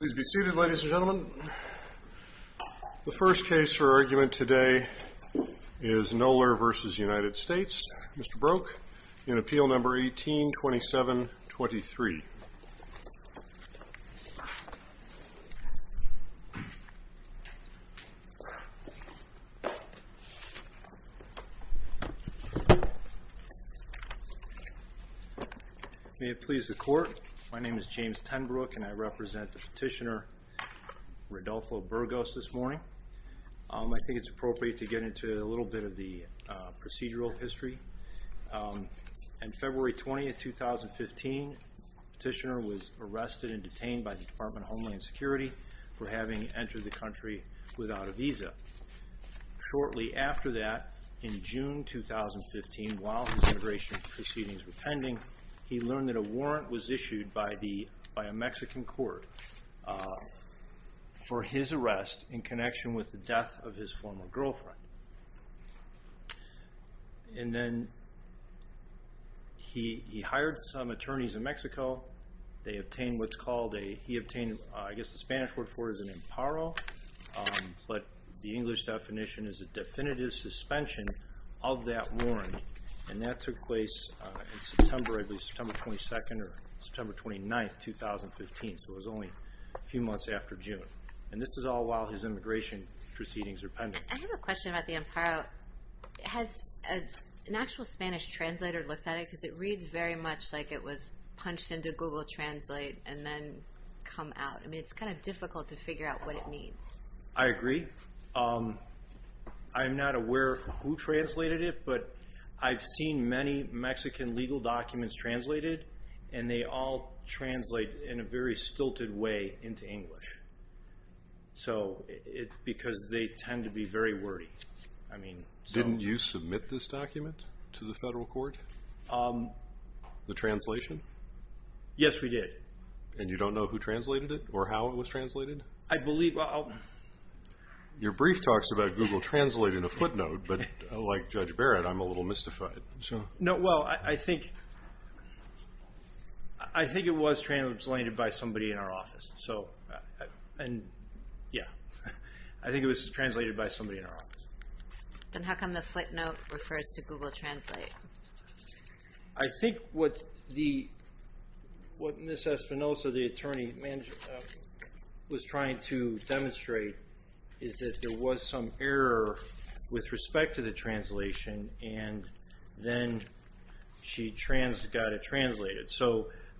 Please be seated, ladies and gentlemen. The first case for argument today is Noeller v. United States. Mr. Broek, in Appeal No. 18-2723. May it please the court, my name is James Tenbrook and I represent the petitioner Rodolfo Burgos this morning. I think it's appropriate to get into a little bit of the procedural history. On February 20, 2015, the petitioner was arrested and detained by the Department of Homeland Security for having entered the country without a visa. Shortly after that, in June 2015, while his immigration proceedings were pending, he learned that a warrant was issued by a Mexican court for his arrest in connection with the death of his former girlfriend. He hired some attorneys in Mexico. He obtained what I guess the Spanish word for it is an amparo, but the English definition is a definitive suspension of that warrant. That took place on September 22 or September 29, 2015, so it was only a few months after June. This is all while his immigration proceedings are pending. I have a question about the amparo. Has an actual Spanish translator looked at it? Because it reads very much like it was punched into Google Translate and then come out. I mean, it's kind of difficult to figure out what it means. I agree. I'm not aware of who translated it, but I've seen many Mexican legal documents translated, and they all translate in a very stilted way into English because they tend to be very wordy. Didn't you submit this document to the federal court? The translation? Yes, we did. And you don't know who translated it or how it was translated? Your brief talks about Google Translate in a footnote, but like Judge Barrett, I'm a little mystified. No, well, I think it was translated by somebody in our office. I think it was translated by somebody in our office. Then how come the footnote refers to Google Translate? I think what Ms. Espinosa, the attorney, was trying to demonstrate is that there was some error with respect to the translation, and then she got it translated.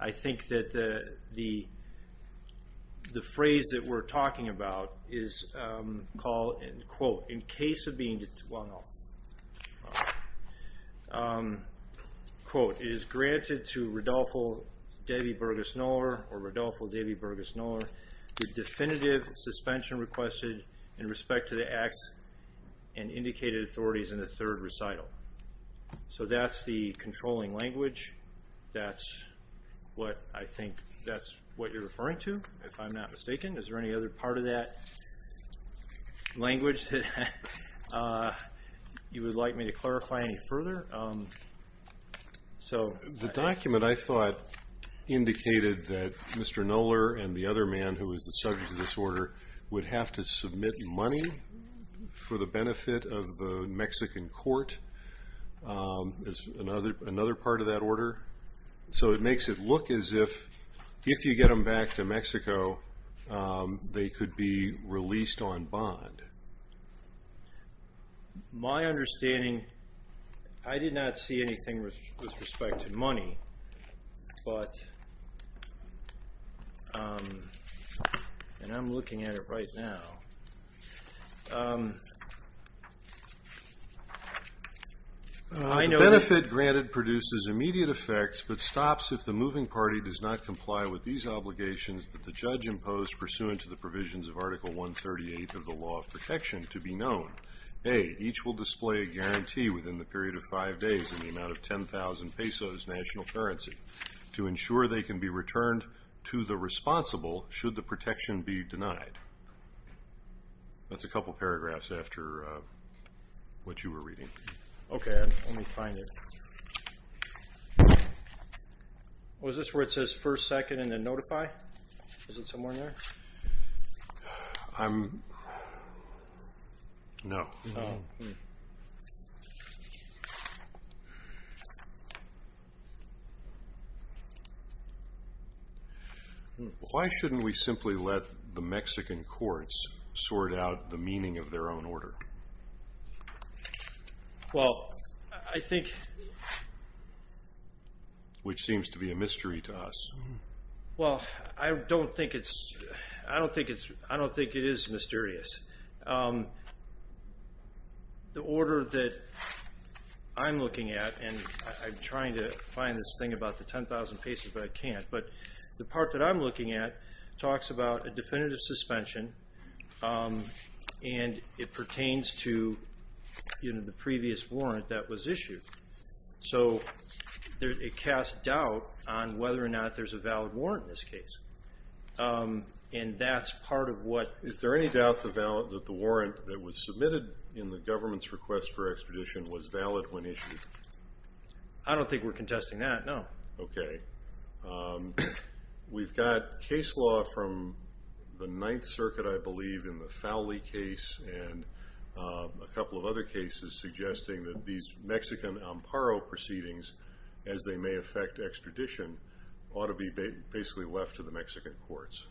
I think that the phrase that we're talking about is, quote, Well, no. Quote, So that's the controlling language. That's what I think that's what you're referring to, if I'm not mistaken. Is there any other part of that language that you would like me to clarify any further? The document, I thought, indicated that Mr. Knoller and the other man who was the subject of this order would have to submit money for the benefit of the Mexican court. There's another part of that order. So it makes it look as if, if you get them back to Mexico, they could be released on bond. My understanding, I did not see anything with respect to money, but, and I'm looking at it right now. The benefit granted produces immediate effects but stops if the moving party does not comply with these obligations that the judge imposed pursuant to the provisions of Article 138 of the Law of Protection to be known. A, each will display a guarantee within the period of five days in the amount of 10,000 pesos national currency to ensure they can be returned to the responsible should the protection be denied. That's a couple paragraphs after what you were reading. Okay, let me find it. Was this where it says first, second, and then notify? Is it somewhere in there? I'm, no. Why shouldn't we simply let the Mexican courts sort out the meaning of their own order? Well, I think. Which seems to be a mystery to us. Well, I don't think it's, I don't think it's, I don't think it is mysterious. The order that I'm looking at, and I'm trying to find this thing about the 10,000 pesos but I can't, but the part that I'm looking at talks about a definitive suspension, and it pertains to, you know, the previous warrant that was issued. So, it casts doubt on whether or not there's a valid warrant in this case. And that's part of what. Is there any doubt that the warrant that was submitted in the government's request for expedition was valid when issued? I don't think we're contesting that, no. Okay. We've got case law from the Ninth Circuit, I believe, in the Fowley case, and a couple of other cases suggesting that these Mexican Amparo proceedings, as they may affect extradition, ought to be basically left to the Mexican courts.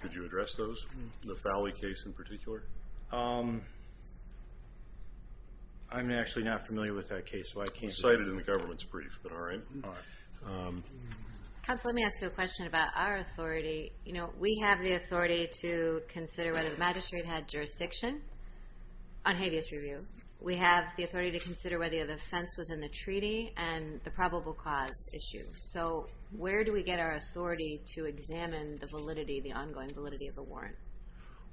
Could you address those? The Fowley case in particular? I'm actually not familiar with that case, so I can't. I cited it in the government's brief, but all right. Counsel, let me ask you a question about our authority. You know, we have the authority to consider whether the magistrate had jurisdiction on habeas review. We have the authority to consider whether the offense was in the treaty and the probable cause issue. So, where do we get our authority to examine the validity, the ongoing validity of the warrant?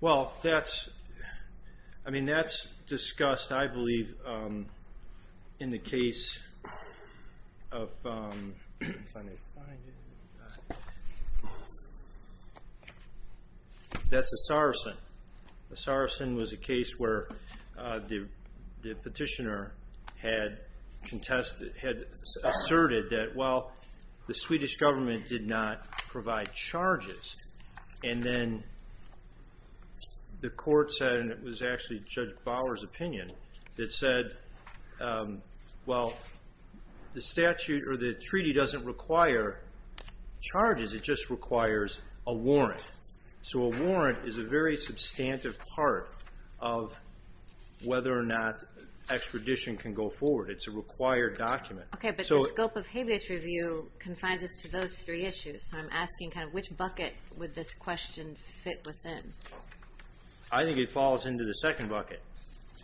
Well, that's discussed, I believe, in the case of Asarsen. Asarsen was a case where the petitioner had asserted that, well, the Swedish government did not provide charges. And then the court said, and it was actually Judge Bauer's opinion, that said, well, the treaty doesn't require charges, it just requires a warrant. So a warrant is a very substantive part of whether or not extradition can go forward. It's a required document. Okay, but the scope of habeas review confines us to those three issues. So I'm asking kind of which bucket would this question fit within? I think it falls into the second bucket,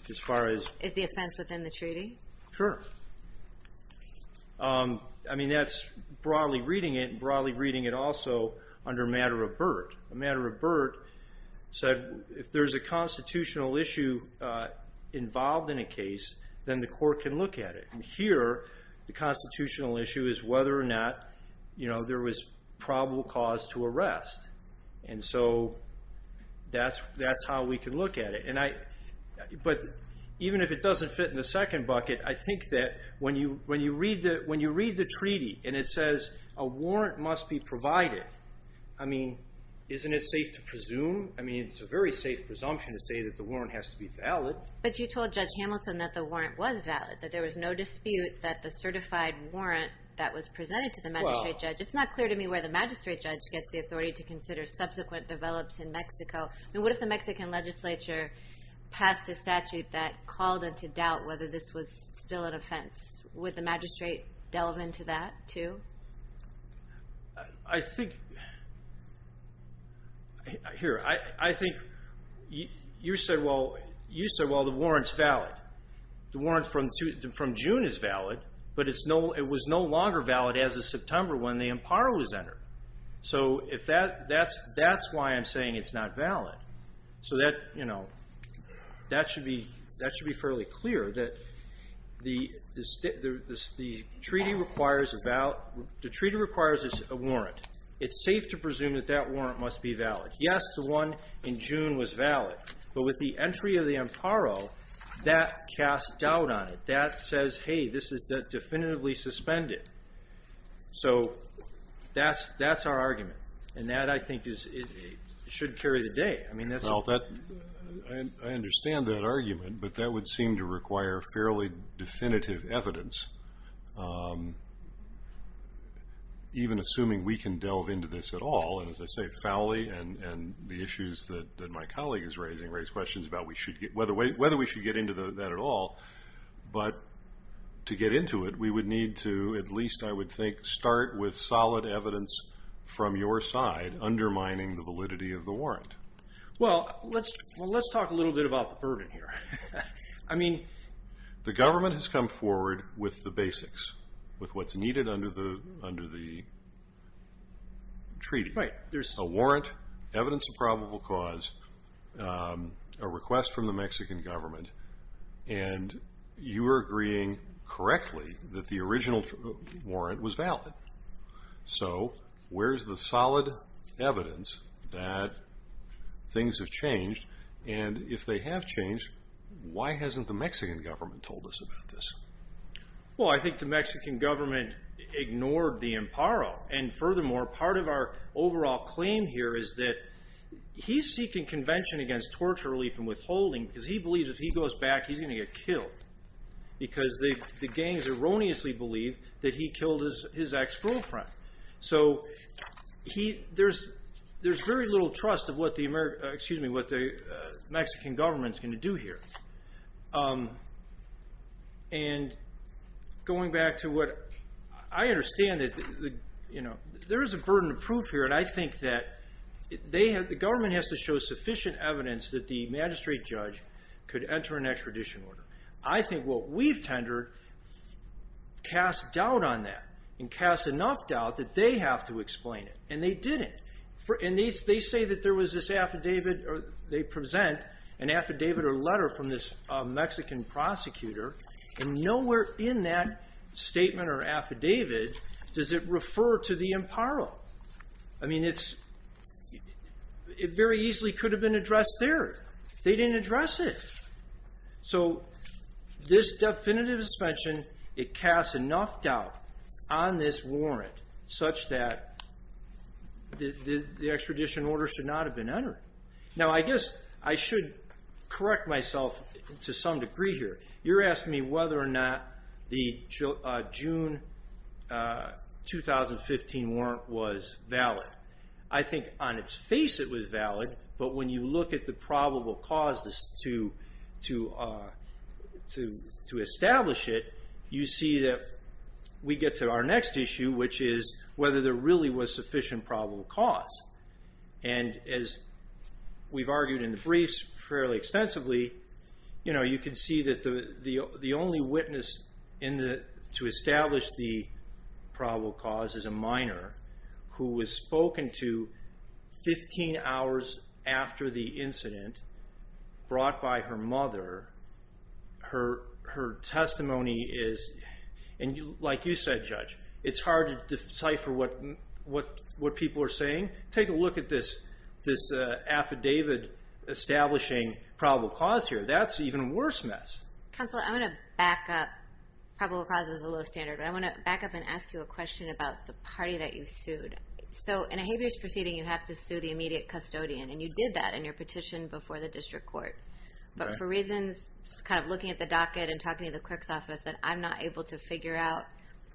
as far as... Is the offense within the treaty? Sure. I mean, that's broadly reading it and broadly reading it also under a matter of BERT. A matter of BERT said if there's a constitutional issue involved in a case, then the court can look at it. And here, the constitutional issue is whether or not there was probable cause to arrest. And so that's how we can look at it. But even if it doesn't fit in the second bucket, I think that when you read the treaty and it says a warrant must be provided, I mean, isn't it safe to presume? I mean, it's a very safe presumption to say that the warrant has to be valid. But you told Judge Hamilton that the warrant was valid, that there was no dispute that the certified warrant that was presented to the magistrate judge. It's not clear to me where the magistrate judge gets the authority to consider subsequent develops in Mexico. I mean, what if the Mexican legislature passed a statute that called into doubt whether this was still an offense? Would the magistrate delve into that, too? I think... Here, I think you said, well, the warrant's valid. The warrant from June is valid, but it was no longer valid as of September when the empire was entered. So that's why I'm saying it's not valid. So that should be fairly clear that the treaty requires a warrant. It's safe to presume that that warrant must be valid. Yes, the one in June was valid. But with the entry of the emparo, that casts doubt on it. That says, hey, this is definitively suspended. So that's our argument. And that, I think, should carry the day. Well, I understand that argument. But that would seem to require fairly definitive evidence, even assuming we can delve into this at all. And as I say, Fowley and the issues that my colleague is raising raise questions about whether we should get into that at all. But to get into it, we would need to at least, I would think, start with solid evidence from your side undermining the validity of the warrant. Well, let's talk a little bit about the burden here. I mean... The government has come forward with the basics, with what's needed under the treaty. Right. And you were agreeing correctly that the original warrant was valid. So where's the solid evidence that things have changed? And if they have changed, why hasn't the Mexican government told us about this? Well, I think the Mexican government ignored the emparo. And furthermore, part of our overall claim here is that he's seeking convention against torture relief and withholding because he believes if he goes back, he's going to get killed. Because the gangs erroneously believe that he killed his ex-girlfriend. So there's very little trust of what the Mexican government is going to do here. And going back to what I understand, there is a burden of proof here. But I think that the government has to show sufficient evidence that the magistrate judge could enter an extradition order. I think what we've tendered casts doubt on that and casts enough doubt that they have to explain it. And they didn't. And they say that there was this affidavit or they present an affidavit or letter from this Mexican prosecutor. And nowhere in that statement or affidavit does it refer to the emparo. I mean, it very easily could have been addressed there. They didn't address it. So this definitive suspension, it casts enough doubt on this warrant such that the extradition order should not have been entered. Now, I guess I should correct myself to some degree here. You're asking me whether or not the June 2015 warrant was valid. I think on its face it was valid. But when you look at the probable causes to establish it, you see that we get to our next issue, which is whether there really was sufficient probable cause. And as we've argued in the briefs fairly extensively, you can see that the only witness to establish the probable cause is a minor who was spoken to 15 hours after the incident, brought by her mother. Her testimony is, and like you said, Judge, it's hard to decipher what people are saying. Take a look at this affidavit establishing probable cause here. That's even worse mess. Counsel, I'm going to back up. Probable cause is a low standard. But I want to back up and ask you a question about the party that you sued. So in a habeas proceeding, you have to sue the immediate custodian. And you did that in your petition before the district court. But for reasons, kind of looking at the docket and talking to the clerk's office, that I'm not able to figure out,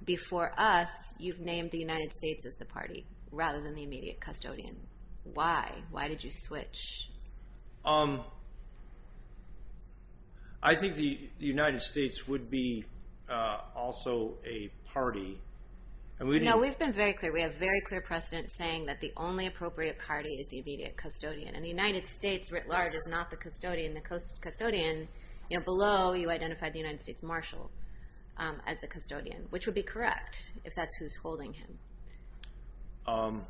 before us, you've named the United States as the party, rather than the immediate custodian. Why? Why did you switch? I think the United States would be also a party. No, we've been very clear. We have very clear precedent saying that the only appropriate party is the immediate custodian. And the United States, writ large, is not the custodian. The custodian below you identified the United States Marshal as the custodian, which would be correct, if that's who's holding him.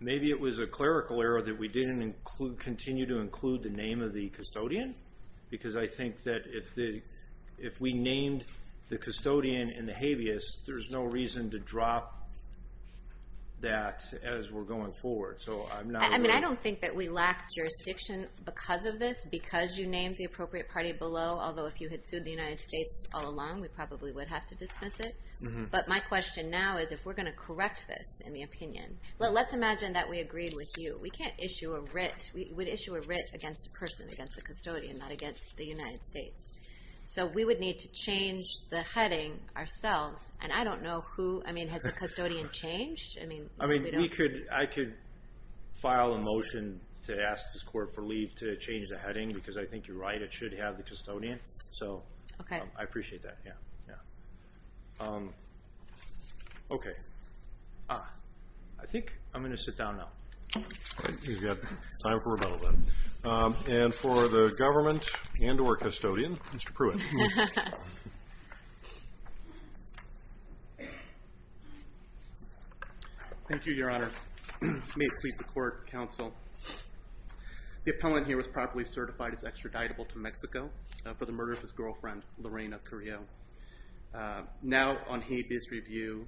Maybe it was a clerical error that we didn't continue to include the name of the custodian. Because I think that if we named the custodian in the habeas, there's no reason to drop that as we're going forward. I don't think that we lack jurisdiction because of this, because you named the appropriate party below. Although, if you had sued the United States all along, we probably would have to dismiss it. But my question now is, if we're going to correct this in the opinion, let's imagine that we agreed with you. We can't issue a writ. We would issue a writ against a person, against a custodian, not against the United States. So we would need to change the heading ourselves. And I don't know who. I mean, has the custodian changed? I mean, we don't know. I mean, I could file a motion to ask this court for leave to change the heading, because I think you're right. It should have the custodian. So I appreciate that. Okay. I think I'm going to sit down now. You've got time for rebuttal then. And for the government and or custodian, Mr. Pruitt. Thank you, Your Honor. May it please the court, counsel. The appellant here was properly certified as extraditable to Mexico for the murder of his girlfriend, Lorena Carrillo. Now, on habeas review,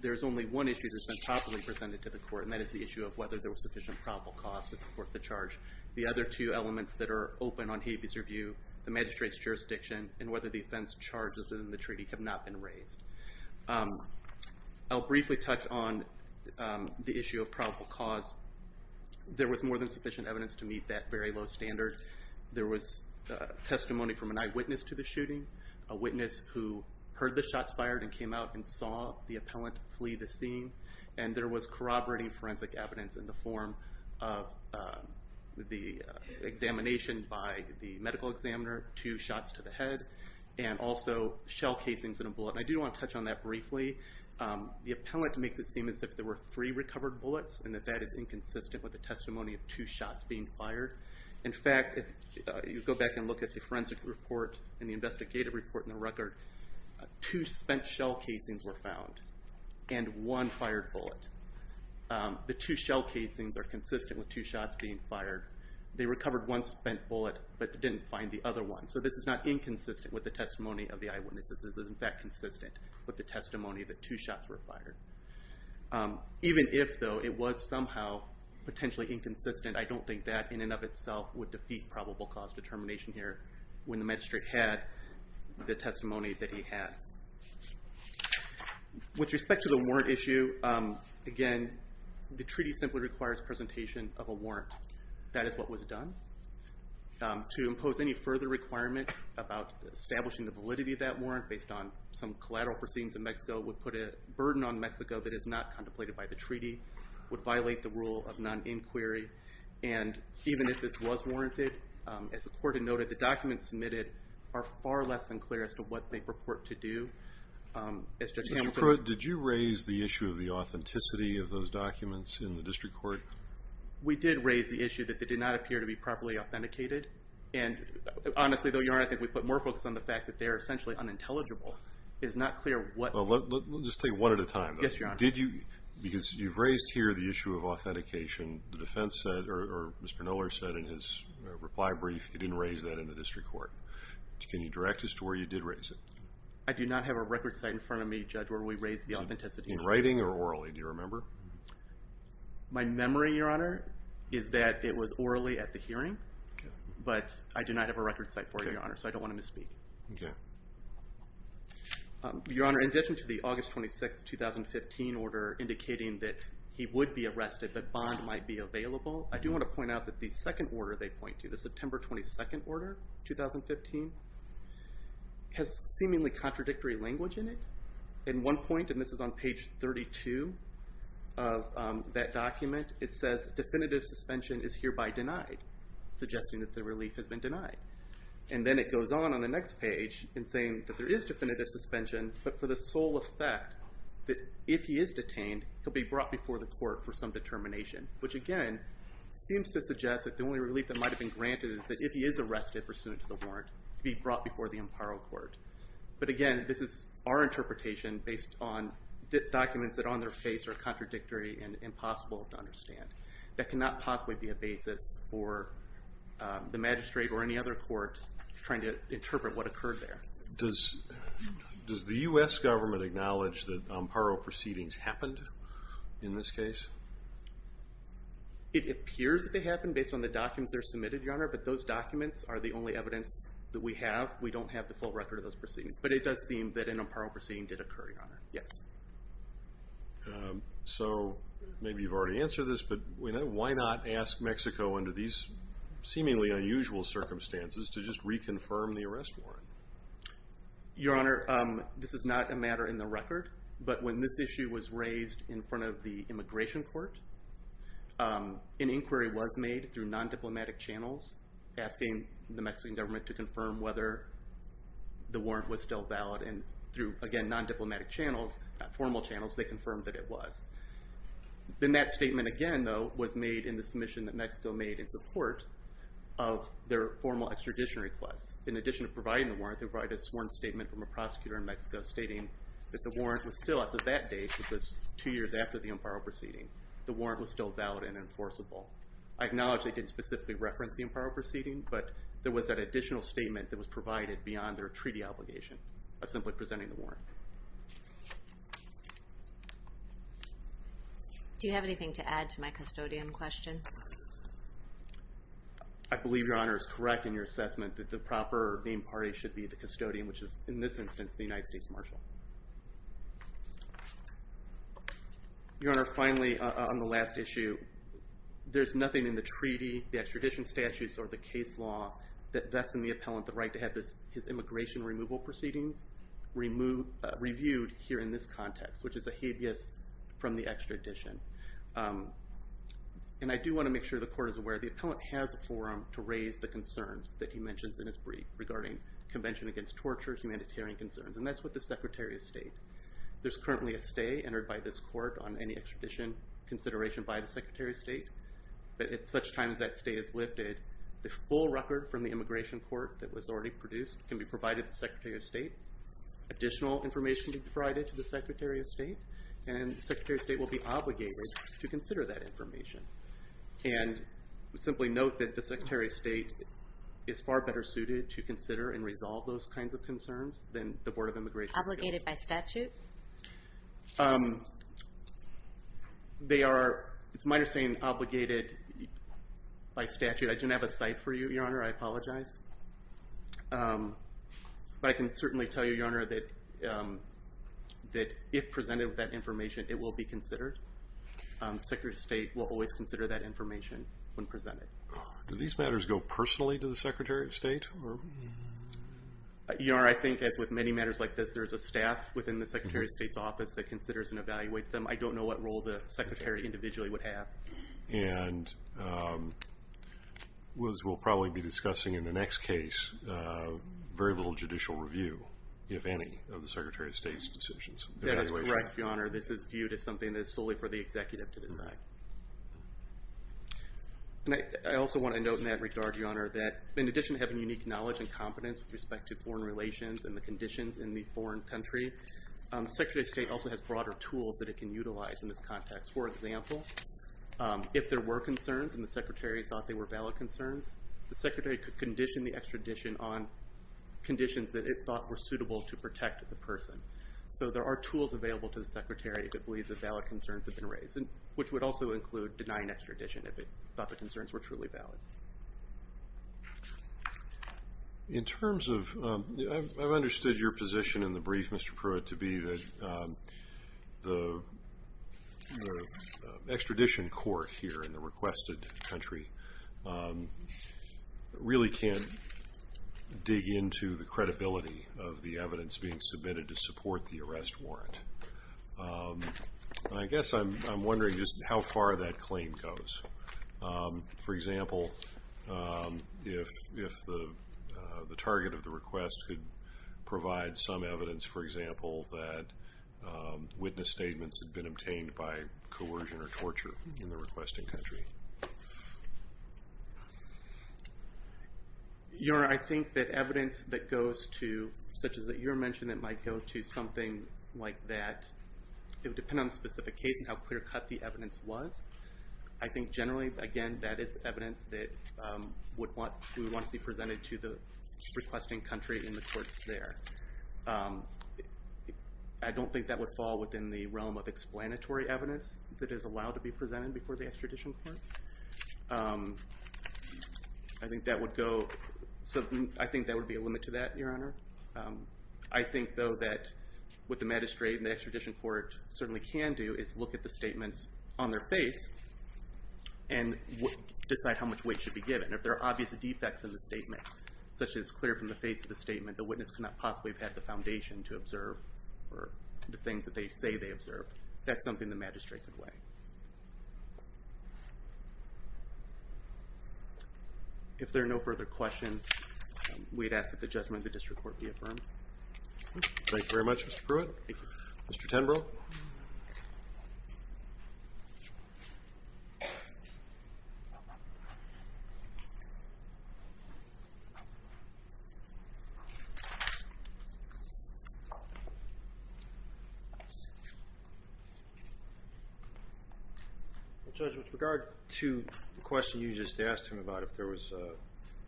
there's only one issue that's been properly presented to the court, and that is the issue of whether there was sufficient probable cause to support the charge. The other two elements that are open on habeas review, the magistrate's jurisdiction and whether the offense charges in the treaty have not been raised. I'll briefly touch on the issue of probable cause. There was more than sufficient evidence to meet that very low standard. There was testimony from an eyewitness to the shooting, a witness who heard the shots fired and came out and saw the appellant flee the scene. And there was corroborating forensic evidence in the form of the examination by the medical examiner, two shots to the head, and also shell casings and a bullet. And I do want to touch on that briefly. The appellant makes it seem as if there were three recovered bullets and that that is inconsistent with the testimony of two shots being fired. In fact, if you go back and look at the forensic report and the investigative report in the record, two spent shell casings were found and one fired bullet. The two shell casings are consistent with two shots being fired. They recovered one spent bullet but didn't find the other one. So this is not inconsistent with the testimony of the eyewitness. This is, in fact, consistent with the testimony that two shots were fired. Even if, though, it was somehow potentially inconsistent, I don't think that in and of itself would defeat probable cause determination here. When the magistrate had the testimony that he had. With respect to the warrant issue, again, the treaty simply requires presentation of a warrant. That is what was done. To impose any further requirement about establishing the validity of that warrant based on some collateral proceedings in Mexico would put a burden on Mexico that is not contemplated by the treaty, would violate the rule of non-inquiry. Even if this was warranted, as the court had noted, the documents submitted are far less than clear as to what they purport to do. Mr. Proat, did you raise the issue of the authenticity of those documents in the district court? We did raise the issue that they did not appear to be properly authenticated. Honestly, though, Your Honor, I think we put more focus on the fact that they are essentially unintelligible. It is not clear what. Yes, Your Honor. Because you have raised here the issue of authentication, the defense said, or Mr. Knoller said in his reply brief, he did not raise that in the district court. Can you direct us to where you did raise it? I do not have a record site in front of me, Judge, where we raised the authenticity. In writing or orally? Do you remember? My memory, Your Honor, is that it was orally at the hearing, but I do not have a record site for it, Your Honor, so I do not want to misspeak. Okay. Your Honor, in addition to the August 26, 2015 order indicating that he would be arrested but bond might be available, I do want to point out that the second order they point to, the September 22 order, 2015, has seemingly contradictory language in it. In one point, and this is on page 32 of that document, it says definitive suspension is hereby denied, suggesting that the relief has been denied. And then it goes on on the next page in saying that there is definitive suspension, but for the sole effect that if he is detained, he'll be brought before the court for some determination, which again seems to suggest that the only relief that might have been granted is that if he is arrested pursuant to the warrant, he'd be brought before the Imperial Court. But again, this is our interpretation based on documents that on their face are contradictory and impossible to understand. That cannot possibly be a basis for the magistrate or any other court trying to interpret what occurred there. Does the U.S. government acknowledge that Amparo proceedings happened in this case? It appears that they happened based on the documents that are submitted, Your Honor, but those documents are the only evidence that we have. We don't have the full record of those proceedings, but it does seem that an Amparo proceeding did occur, Your Honor. Yes. So maybe you've already answered this, but why not ask Mexico under these seemingly unusual circumstances to just reconfirm the arrest warrant? Your Honor, this is not a matter in the record, but when this issue was raised in front of the Immigration Court, an inquiry was made through non-diplomatic channels asking the Mexican government to confirm whether the warrant was still valid. And through, again, non-diplomatic channels, formal channels, they confirmed that it was. Then that statement again, though, was made in the submission that Mexico made in support of their formal extradition request. In addition to providing the warrant, they provided a sworn statement from a prosecutor in Mexico stating that the warrant was still, as of that date, which was two years after the Amparo proceeding, the warrant was still valid and enforceable. I acknowledge they didn't specifically reference the Amparo proceeding, but there was that additional statement that was provided beyond their treaty obligation of simply presenting the warrant. Do you have anything to add to my custodian question? I believe, Your Honor, it's correct in your assessment that the proper named party should be the custodian, which is, in this instance, the United States Marshal. Your Honor, finally, on the last issue, there's nothing in the treaty, the extradition statutes, or the case law that vests in the appellant the right to have his immigration removal proceedings reviewed here in this context, which is a habeas from the extradition. And I do want to make sure the court is aware the appellant has a forum to raise the concerns that he mentions in his brief regarding Convention Against Torture humanitarian concerns, and that's with the Secretary of State. There's currently a stay entered by this court on any extradition consideration by the Secretary of State, but at such times that stay is lifted, the full record from the immigration court that was already produced can be provided to the Secretary of State. Additional information can be provided to the Secretary of State, and the Secretary of State will be obligated to consider that information. And simply note that the Secretary of State is far better suited to consider and resolve those kinds of concerns than the Board of Immigration. Obligated by statute? They are, it's my understanding, obligated by statute. I didn't have a cite for you, Your Honor, I apologize. But I can certainly tell you, Your Honor, that if presented with that information, it will be considered. The Secretary of State will always consider that information when presented. Do these matters go personally to the Secretary of State? Your Honor, I think as with many matters like this, there's a staff within the Secretary of State's office that considers and evaluates them. I don't know what role the Secretary individually would have. And as we'll probably be discussing in the next case, very little judicial review, if any, of the Secretary of State's decisions. That is correct, Your Honor, this is viewed as something that is solely for the executive to decide. And I also want to note in that regard, Your Honor, that in addition to having unique knowledge and competence with respect to foreign relations and the conditions in the foreign country, the Secretary of State also has broader tools that it can utilize in this context. For example, if there were concerns and the Secretary thought they were valid concerns, the Secretary could condition the extradition on conditions that it thought were suitable to protect the person. So there are tools available to the Secretary if it believes that valid concerns have been raised, which would also include denying extradition if it thought the concerns were truly valid. I've understood your position in the brief, Mr. Pruitt, to be that the extradition court here in the requested country really can't dig into the credibility of the evidence being submitted to support the arrest warrant. I guess I'm wondering just how far that claim goes. For example, if the target of the request could provide some evidence, for example, that witness statements had been obtained by coercion or torture in the requesting country. Your Honor, I think that evidence that goes to, such as that you mentioned, that might go to something like that, it would depend on the specific case and how clear cut the evidence was. I think generally, again, that is evidence that would want to be presented to the requesting country in the courts there. I don't think that would fall within the realm of explanatory evidence that is allowed to be presented before the extradition court. I think that would be a limit to that, Your Honor. I think, though, that what the magistrate and the extradition court certainly can do is look at the statements on their face and decide how much weight should be given. If there are obvious defects in the statement, such as clear from the face of the statement, the witness could not possibly have had the foundation to observe the things that they say they observed. That's something the magistrate could weigh. If there are no further questions, we'd ask that the judgment of the district court be affirmed. Thank you very much, Mr. Pruitt. Thank you. Mr. Tenbrough? Judge, with regard to the question you just asked him about if there was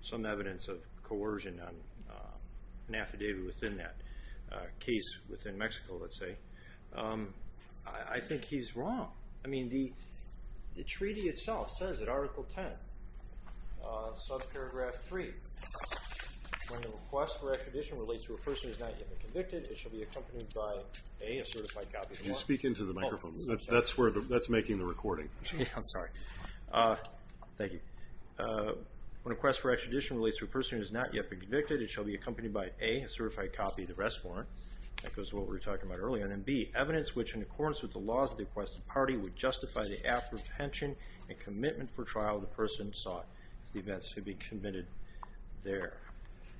some evidence of coercion on an affidavit within that case within Mexico, let's say, I think he's wrong. The treaty itself says in Article 10, subparagraph 3, when a request for extradition relates to a person who has not yet been convicted, it shall be accompanied by, A, a certified copy of the law. Could you speak into the microphone? That's making the recording. I'm sorry. Thank you. When a request for extradition relates to a person who has not yet been convicted, it shall be accompanied by, A, a certified copy of the rest warrant. That goes to what we were talking about earlier. And, B, evidence which in accordance with the laws of the requested party would justify the apprehension and commitment for trial of the person who sought the events to be committed there.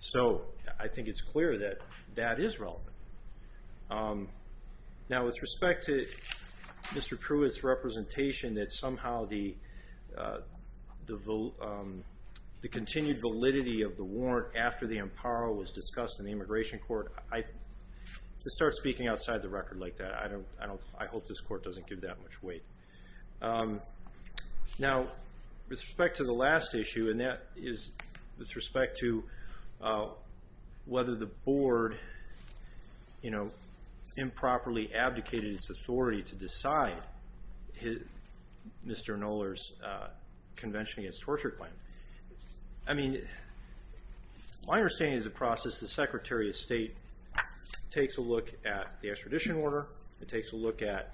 So I think it's clear that that is relevant. Now, with respect to Mr. Pruitt's representation that somehow the continued validity of the warrant after the amparo was discussed in the Immigration Court, to start speaking outside the record like that, I hope this Court doesn't give that much weight. Now, with respect to the last issue, and that is with respect to whether the Board, you know, improperly abdicated its authority to decide Mr. Knoller's Convention Against Torture claim. I mean, my understanding is the process the Secretary of State takes a look at the extradition order. It takes a look at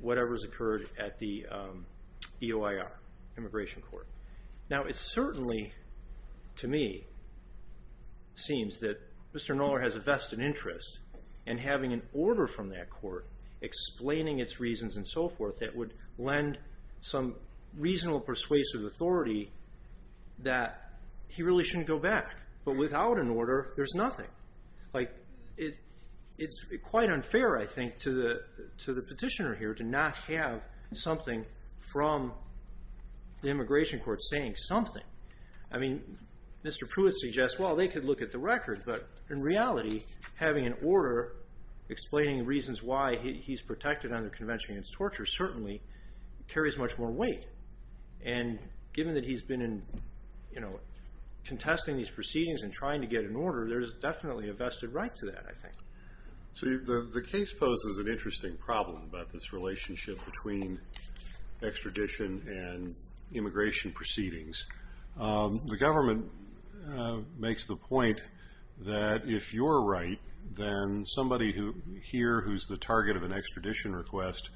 whatever has occurred at the EOIR, Immigration Court. Now, it certainly, to me, seems that Mr. Knoller has a vested interest in having an order from that court explaining its reasons and so forth that would lend some reasonable persuasive authority that he really shouldn't go back. But without an order, there's nothing. Like, it's quite unfair, I think, to the petitioner here to not have something from the Immigration Court saying something. I mean, Mr. Pruitt suggests, well, they could look at the record, but in reality, having an order explaining reasons why he's protected under Convention Against Torture certainly carries much more weight. And given that he's been, you know, contesting these proceedings and trying to get an order, there's definitely a vested right to that, I think. So the case poses an interesting problem about this relationship between extradition and immigration proceedings. The government makes the point that if you're right, then somebody here who's the target of an extradition request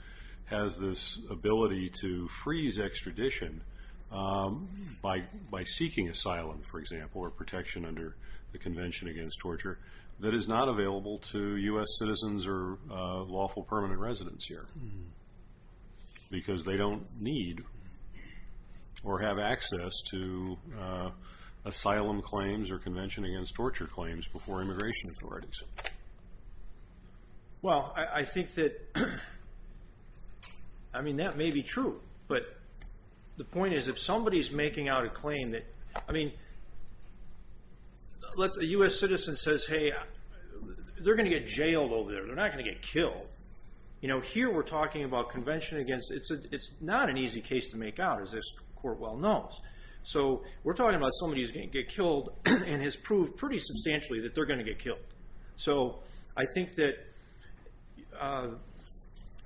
has this ability to freeze extradition by seeking asylum, for example, or protection under the Convention Against Torture that is not available to U.S. citizens or lawful permanent residents here because they don't need or have access to asylum claims or Convention Against Torture claims before immigration authorities. Well, I think that, I mean, that may be true. But the point is, if somebody's making out a claim that, I mean, let's say a U.S. citizen says, hey, they're going to get jailed over there. They're not going to get killed. You know, here we're talking about Convention Against, it's not an easy case to make out, as this court well knows. So we're talking about somebody who's going to get killed and has proved pretty substantially that they're going to get killed. So I think that,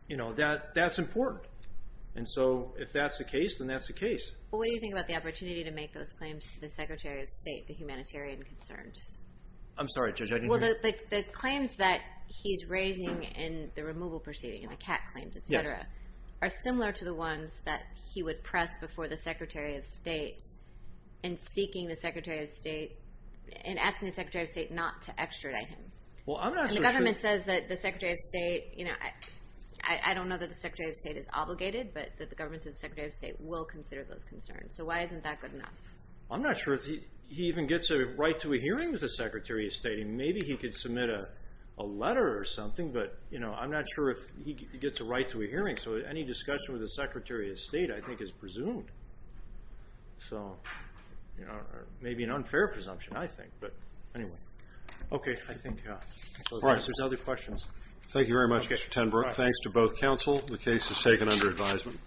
you know, that's important. And so if that's the case, then that's the case. Well, what do you think about the opportunity to make those claims to the Secretary of State, I'm sorry, Judge, I didn't hear you. Well, the claims that he's raising in the removal proceeding, the CAT claims, et cetera, are similar to the ones that he would press before the Secretary of State in seeking the Secretary of State, in asking the Secretary of State not to extradite him. Well, I'm not so sure. And the government says that the Secretary of State, you know, I don't know that the Secretary of State is obligated, but that the government says the Secretary of State will consider those concerns. So why isn't that good enough? I'm not sure if he even gets a right to a hearing with the Secretary of State. I mean, maybe he could submit a letter or something, but, you know, I'm not sure if he gets a right to a hearing. So any discussion with the Secretary of State, I think, is presumed. So, you know, maybe an unfair presumption, I think. But, anyway. Okay, I think that answers other questions. Thank you very much, Mr. Tenbrook. Thanks to both counsel. The case is taken under advisement.